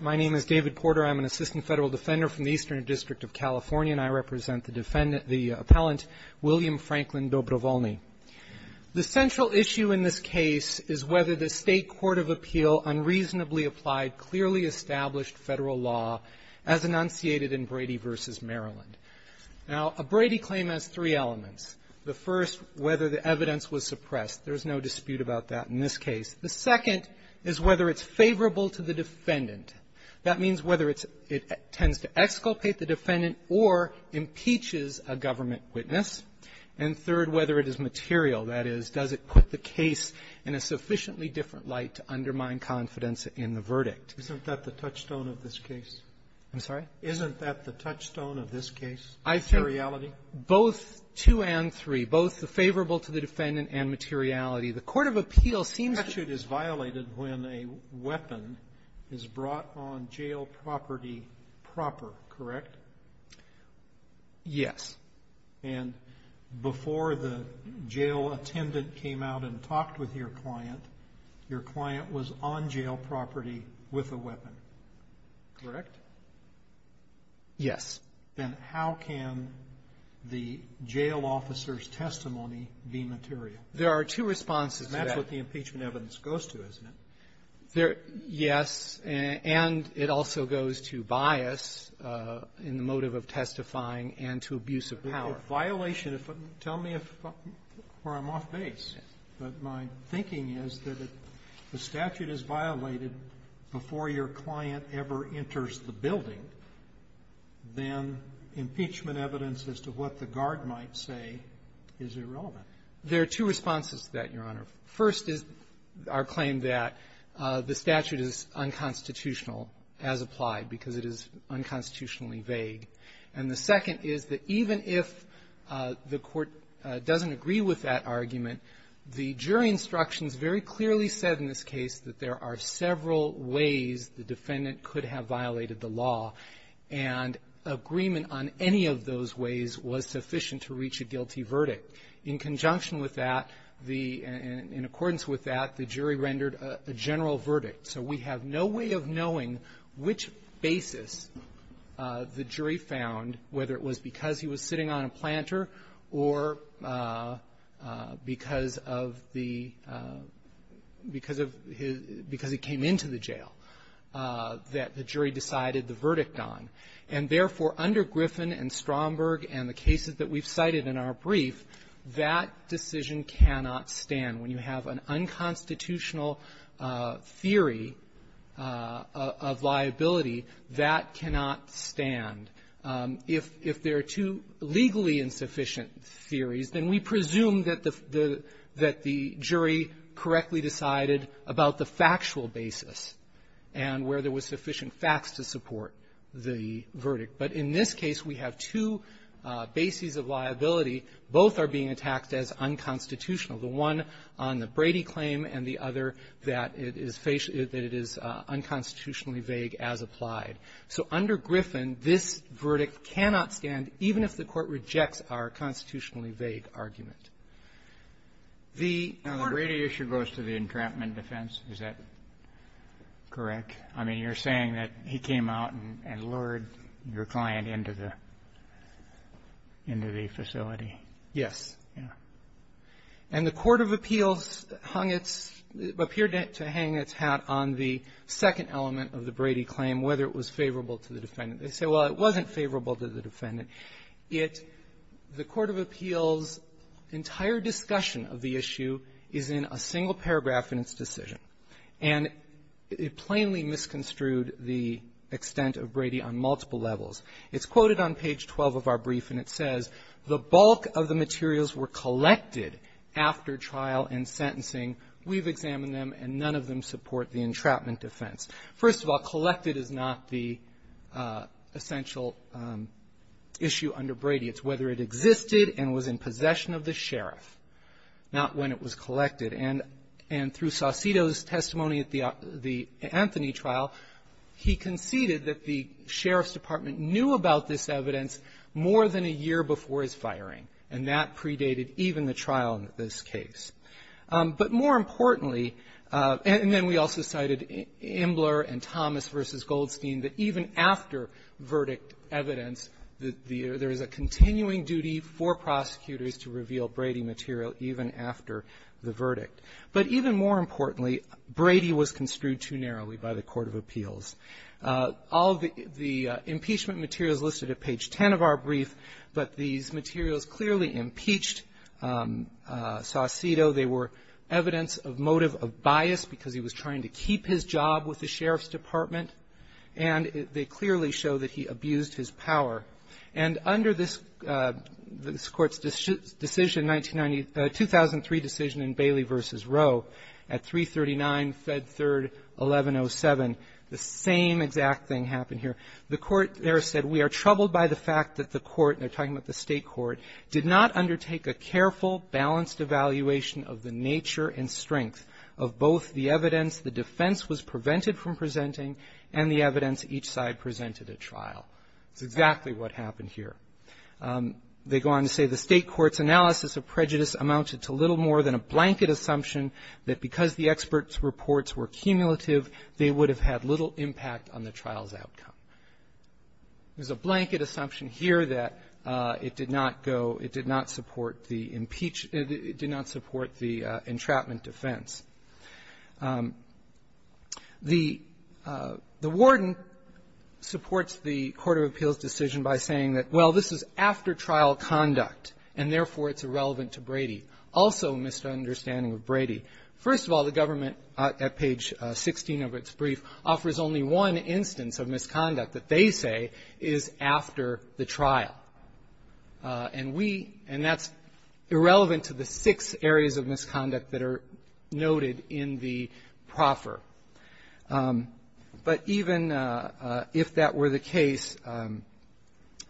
My name is David Porter. I'm an Assistant Federal Defender from the Eastern District of California, and I represent the defendant, the appellant, William Franklin Dobrov0lny. The central issue in this case is whether the State Court of Appeal unreasonably applied clearly established Federal law as enunciated in Brady v. Maryland. Now a Brady claim has three elements. The first, whether the evidence was suppressed. There's no dispute about that in this case. The second is whether it's favorable to the defendant. That means whether it's -- it tends to exculpate the defendant or impeaches a government witness. And third, whether it is material. That is, does it put the case in a sufficiently different light to undermine confidence in the verdict? Isn't that the touchstone of this case? I'm sorry? Isn't that the touchstone of this case? I think both two and three, both the favorable to the defendant and materiality. The Court of Appeal seems to be ---- is brought on jail property proper, correct? Yes. And before the jail attendant came out and talked with your client, your client was on jail property with a weapon, correct? Yes. Then how can the jail officer's testimony be material? There are two responses to that. And that's what the impeachment evidence goes to, isn't it? There ---- yes. And it also goes to bias in the motive of testifying and to abuse of power. But the violation of ---- tell me if ---- where I'm off base. But my thinking is that if the statute is violated before your client ever enters the building, then impeachment evidence as to what the guard might say is irrelevant. There are two responses to that, Your Honor. First is our claim that the statute is unconstitutional as applied because it is unconstitutionally vague. And the second is that even if the court doesn't agree with that argument, the jury instructions very clearly said in this case that there are several ways the defendant could have violated the law, and agreement on any of those ways was sufficient to reach a guilty verdict. In conjunction with that, the ---- in accordance with that, the jury rendered a general verdict. So we have no way of knowing which basis the jury found, whether it was because he was sitting on a planter or because of the ---- because of his ---- because he came into the jail, that the jury decided the verdict on. And, therefore, under Griffin and Stromberg and the cases that we've cited in our brief, that decision cannot stand. When you have an unconstitutional theory of liability, that cannot stand. If there are two legally insufficient theories, then we presume that the ---- that the jury correctly decided about the factual basis and where there was sufficient facts to support the verdict. But in this case, we have two bases of liability. Both are being attacked as unconstitutional, the one on the Brady claim and the other that it is unconstitutionally vague as applied. So under Griffin, this verdict cannot stand even if the Court rejects our constitutionally vague argument. The court ---- Roberts. Now, the Brady issue goes to the entrapment defense. Is that correct? I mean, you're saying that he came out and lured your client into the facility. Yes. Yeah. And the court of appeals hung its ---- appeared to hang its hat on the second element of the Brady claim, whether it was favorable to the defendant. They say, well, it wasn't favorable to the defendant. It ---- the court of appeals' entire discussion of the issue is in a single paragraph in its decision. And it plainly misconstrued the extent of Brady on multiple levels. It's quoted on page 12 of our brief, and it says, the bulk of the materials were collected after trial and sentencing. We've examined them, and none of them support the entrapment defense. First of all, collected is not the essential issue under Brady. It's whether it existed and was in possession of the sheriff, not when it was collected. And through Saucedo's testimony at the Anthony trial, he conceded that the sheriff's department knew about this evidence more than a year before his firing. And that predated even the trial in this case. But more importantly, and then we also cited Imbler and Thomas v. Goldstein, that even after verdict evidence, there is a continuing duty for prosecutors to reveal Brady material even after the verdict. But even more importantly, Brady was construed too narrowly by the court of appeals. All the impeachment materials listed at page 10 of our brief, but these materials clearly impeached Saucedo. They were evidence of motive of bias because he was trying to keep his job with the sheriff's department. And they clearly show that he abused his power. And under this Court's decision, 1990 --- 2003 decision in Bailey v. Rowe at 339 Fed 3rd, 1107, the same exact thing happened here. The Court there said, we are troubled by the fact that the Court --- and they're talking about the State court --- did not undertake a careful, balanced evaluation of the nature and strength of both the evidence the defense was prevented from presenting and the evidence each side presented at trial. That's exactly what happened here. They go on to say the State court's analysis of prejudice amounted to little more than a blanket assumption that because the experts' reports were cumulative, they would have had little impact on the trial's outcome. There's a blanket assumption here that it did not go --- it did not support the impeach -- it did not support the entrapment defense. The warden supports the Court of Appeals' decision by saying that, well, this is after trial conduct, and therefore, it's irrelevant to Brady. Also a misunderstanding of Brady. First of all, the government, at page 16 of its brief, offers only one instance of misconduct that they say is after the trial. And we -- and that's irrelevant to the six areas of misconduct that are noted in the proffer. But even if that were the case,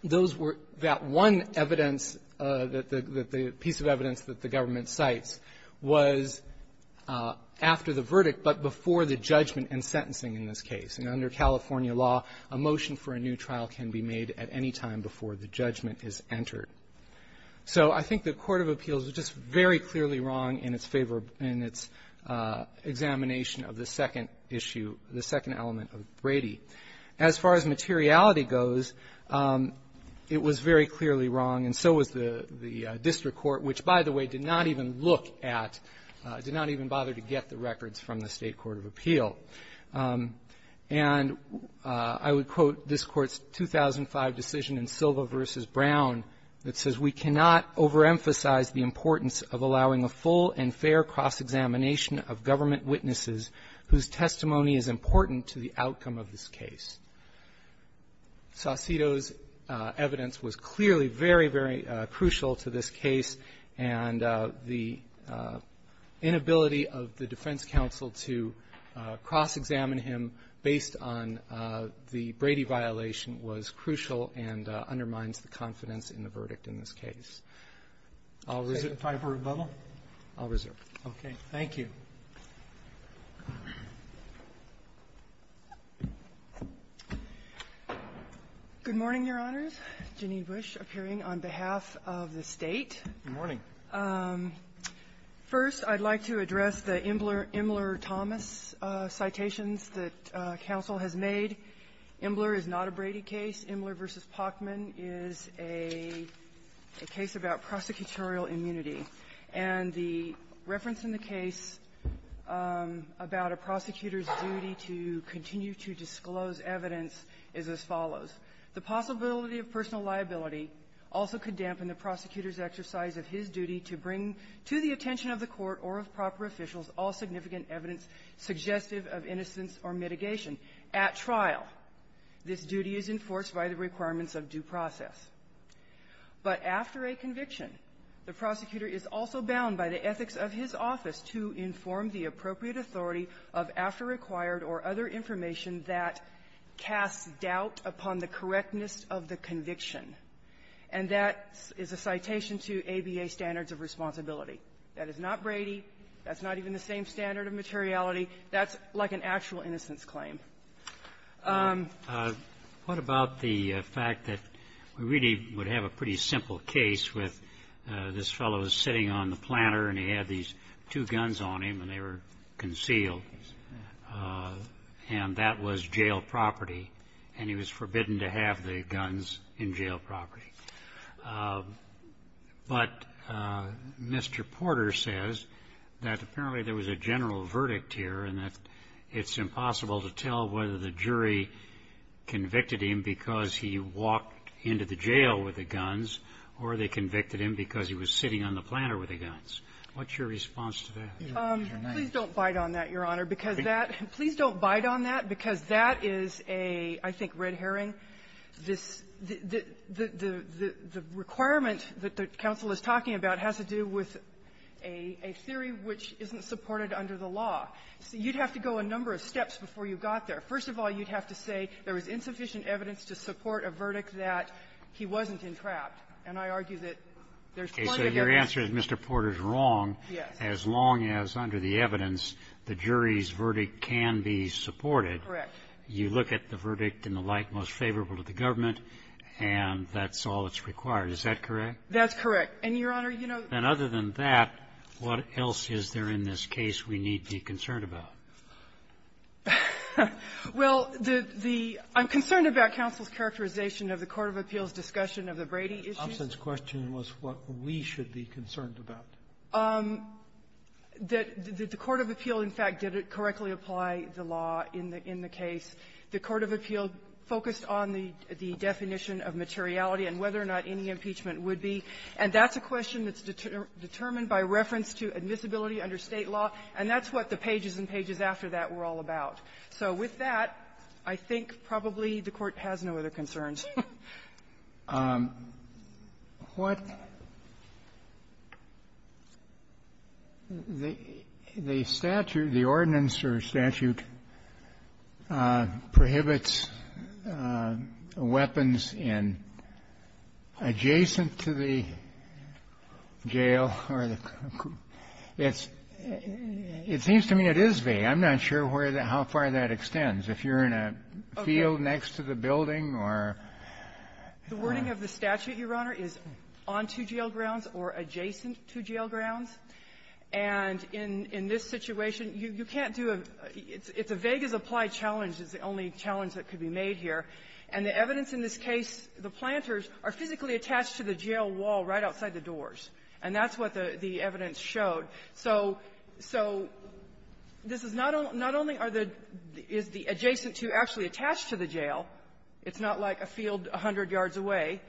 those were the one evidence that the piece of evidence that the government cites was after the verdict, but before the judgment and sentencing in this case. And under California law, a motion for a new trial can be made at any time before the judgment is entered. So I think the Court of Appeals was just very clearly wrong in its favor of its examination of the second issue, the second element of Brady. As far as materiality goes, it was very clearly wrong, and so was the district court, which, by the way, did not even look at, did not even bother to get the records from the State court of appeal. And I would quote this Court's 2005 decision in Silva v. Brown that says, We cannot overemphasize the importance of allowing a full and fair cross-examination of government witnesses whose testimony is important to the outcome of this case. Saucedo's evidence was clearly very, very crucial to this case, and the inability of the defense counsel to cross-examine him based on the Brady violation was crucial and undermines the confidence in the verdict in this case. I'll reserve. Roberts. Can we try for a rebuttal? I'll reserve. Okay. Thank you. Good morning, Your Honors. Janine Bush, appearing on behalf of the State. Good morning. First, I'd like to address the Imler-Thomas citations that counsel has made. Imler is not a Brady case. Imler v. Pachman is a case about prosecutorial immunity. And the reference in the case about a prosecutor's duty to continue to disclose evidence is as follows. The possibility of personal liability also could dampen the prosecutor's exercise of his duty to bring to the attention of the court or of proper officials all significant evidence suggestive of innocence or mitigation. At trial, this duty is enforced by the requirements of due process. But after a conviction, the prosecutor is also bound by the ethics of his office to inform the appropriate authority of after-required or other information that casts doubt upon the correctness of the conviction. And that is a citation to ABA standards of responsibility. That is not Brady. That's not even the same standard of materiality. That's like an actual innocence claim. What about the fact that we really would have a pretty simple case with this fellow is sitting on the planter, and he had these two guns on him, and they were concealed. And that was jail property, and he was forbidden to have the guns in jail property. But Mr. Porter says that apparently there was a general verdict here and that it's impossible to tell whether the jury convicted him because he walked into the jail with the guns, or they convicted him because he was sitting on the planter with the guns. What's your response to that? Please don't bite on that, Your Honor, because that — please don't bite on that because that is a, I think, red herring. This — the requirement that the counsel is talking about has to do with a theory which isn't supported under the law. So you'd have to go a number of steps before you got there. First of all, you'd have to say there was insufficient evidence to support a verdict that he wasn't entrapped. And I argue that there's plenty of evidence to support a verdict that he wasn't entrapped. But you can't say there's wrong as long as, under the evidence, the jury's verdict can be supported. Correct. You look at the verdict and the like most favorable to the government, and that's all that's required. Is that correct? That's correct. And, Your Honor, you know — Then other than that, what else is there in this case we need to be concerned about? Well, the — I'm concerned about counsel's characterization of the court of appeals' discussion of the Brady issue. The absence question was what we should be concerned about. The court of appeal, in fact, didn't correctly apply the law in the case. The court of appeal focused on the definition of materiality and whether or not any impeachment would be. And that's a question that's determined by reference to admissibility under State law. And that's what the pages and pages after that were all about. So with that, I think probably the Court has no other concerns. What the statute, the ordinance or statute, prohibits weapons in adjacent to the jail or the — it's — it seems to me it is vague. I'm not sure where — how far that extends. If you're in a field next to the building or — The wording of the statute, Your Honor, is on to jail grounds or adjacent to jail grounds. And in — in this situation, you can't do a — it's a vague as applied challenge is the only challenge that could be made here. And the evidence in this case, the planters are physically attached to the jail wall right outside the doors. And that's what the — the evidence showed. So — so this is not only — not only are the — is the adjacent to actually attached to the jail. It's not like a field a hundred yards away.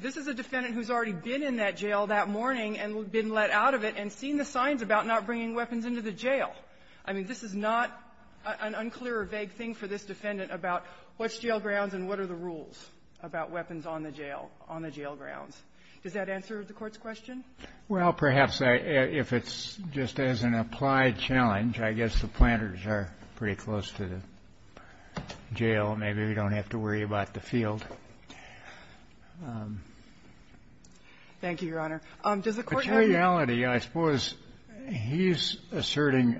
This is a defendant who's already been in that jail that morning and been let out of it and seen the signs about not bringing weapons into the jail. I mean, this is not an unclear or vague thing for this defendant about what's jail grounds and what are the rules about weapons on the jail — on the jail grounds. Does that answer the Court's question? Well, perhaps. If it's just as an applied challenge, I guess the planters are pretty close to the jail, so maybe we don't have to worry about the field. Thank you, Your Honor. Does the Court have any — But in reality, I suppose he's asserting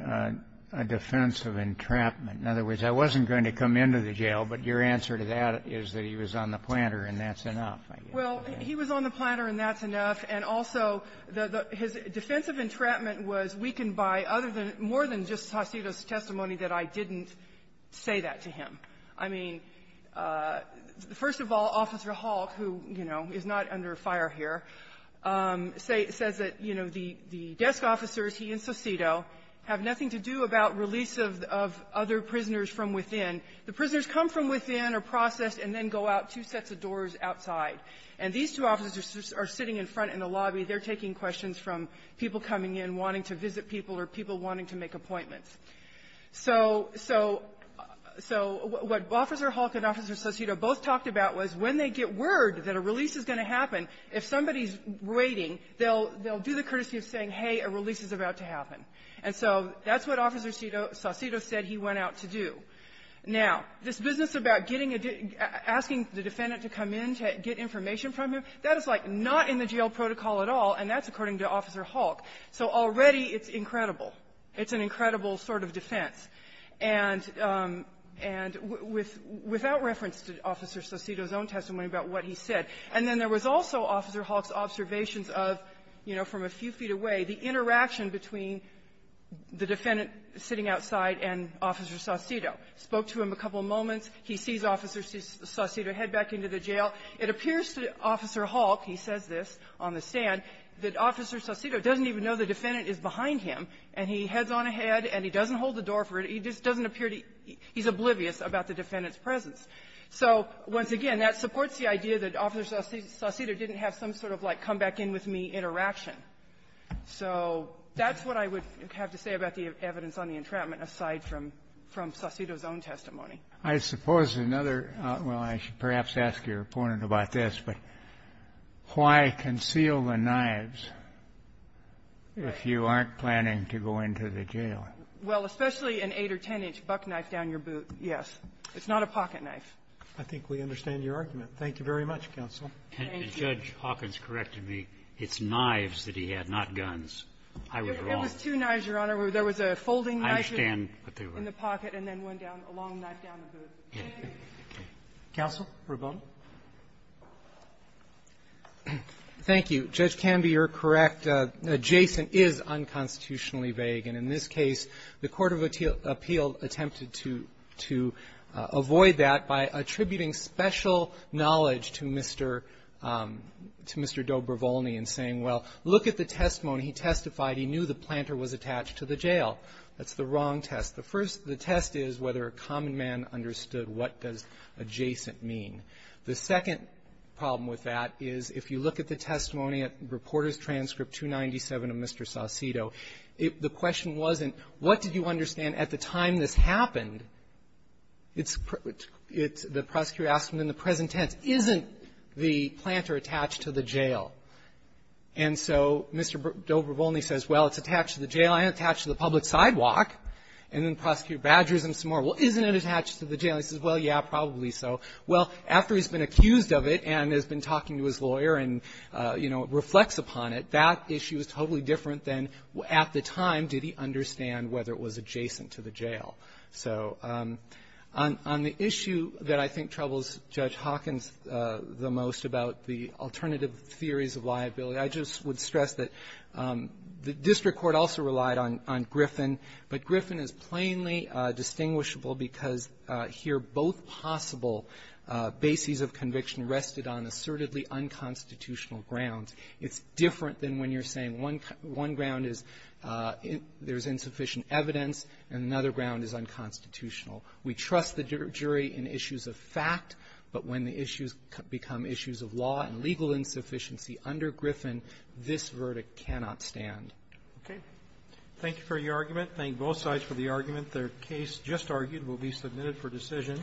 a defense of entrapment. In other words, I wasn't going to come into the jail, but your answer to that is that he was on the planter, and that's enough, I guess. Well, he was on the planter, and that's enough. And also, the — his defense of entrapment was weakened by other than — more than Justice Sosito's testimony that I didn't say that to him. I mean, first of all, Officer Halk, who, you know, is not under fire here, says that, you know, the desk officers, he and Sosito, have nothing to do about release of — of other prisoners from within. The prisoners come from within, are processed, and then go out two sets of doors outside. And these two officers are sitting in front in the lobby. They're taking questions from people coming in, wanting to visit people, or people wanting to make appointments. So — so — so what Officer Halk and Officer Sosito both talked about was when they get word that a release is going to happen, if somebody's waiting, they'll — they'll do the courtesy of saying, hey, a release is about to happen. And so that's what Officer Sosito said he went out to do. Now, this business about getting a — asking the defendant to come in to get information from him, that is, like, not in the jail protocol at all, and that's according to Officer Halk. So already, it's incredible. It's an incredible sort of defense. And — and with — without reference to Officer Sosito's own testimony about what he said. And then there was also Officer Halk's observations of, you know, from a few feet away, the interaction between the defendant sitting outside and Officer Sosito. Spoke to him a couple moments. He sees Officer Sosito head back into the jail. It appears to Officer Halk — he says this on the stand — that Officer Sosito doesn't even know the defendant is behind him, and he heads on ahead, and he doesn't hold the door for it. He just doesn't appear to — he's oblivious about the defendant's presence. So once again, that supports the idea that Officer Sosito didn't have some sort of, like, come-back-in-with-me interaction. So that's what I would have to say about the evidence on the entrapment, aside from — from Sosito's own testimony. I suppose another — well, I should perhaps ask your opponent about this, but why conceal the knives if you aren't planning to go into the jail? Well, especially an 8- or 10-inch buck knife down your boot, yes. It's not a pocket knife. I think we understand your argument. Thank you very much, counsel. Thank you. And Judge Hawkins corrected me. It's knives that he had, not guns. I was wrong. It was two knives, Your Honor. There was a folding knife in the pocket and then one down — a long knife down the boot. Thank you. Counsel, Ravone. Thank you. Judge Canby, you're correct. Jason is unconstitutionally vague. And in this case, the court of appeal attempted to — to avoid that by attributing special knowledge to Mr. — to Mr. Dobrevolny in saying, well, look at the testimony. He testified he knew the planter was attached to the jail. That's the wrong test. The first — the test is whether a common man understood what does adjacent mean. The second problem with that is, if you look at the testimony at Reporters' Transcript 297 of Mr. Saucedo, the question wasn't, what did you understand at the time this happened? It's — it's — the prosecutor asked him in the present tense, isn't the planter attached to the jail? And so Mr. Dobrevolny says, well, it's attached to the jail. I attached to the public sidewalk. And then Prosecutor Badger asked him some more, well, isn't it attached to the jail? He says, well, yeah, probably so. Well, after he's been accused of it and has been talking to his lawyer and, you know, reflects upon it, that issue is totally different than, at the time, did he understand whether it was adjacent to the jail. So on — on the issue that I think troubles Judge Hawkins the most about the alternative theories of liability, I just would like to stress that the district court also relied on — on Griffin. But Griffin is plainly distinguishable because here both possible bases of conviction rested on assertedly unconstitutional grounds. It's different than when you're saying one — one ground is there's insufficient evidence, and another ground is unconstitutional. We trust the jury in issues of fact, but when the issues become issues of law and justice, this verdict cannot stand. Okay. Thank you for your argument. Thank both sides for the argument. Their case just argued will be submitted for decision.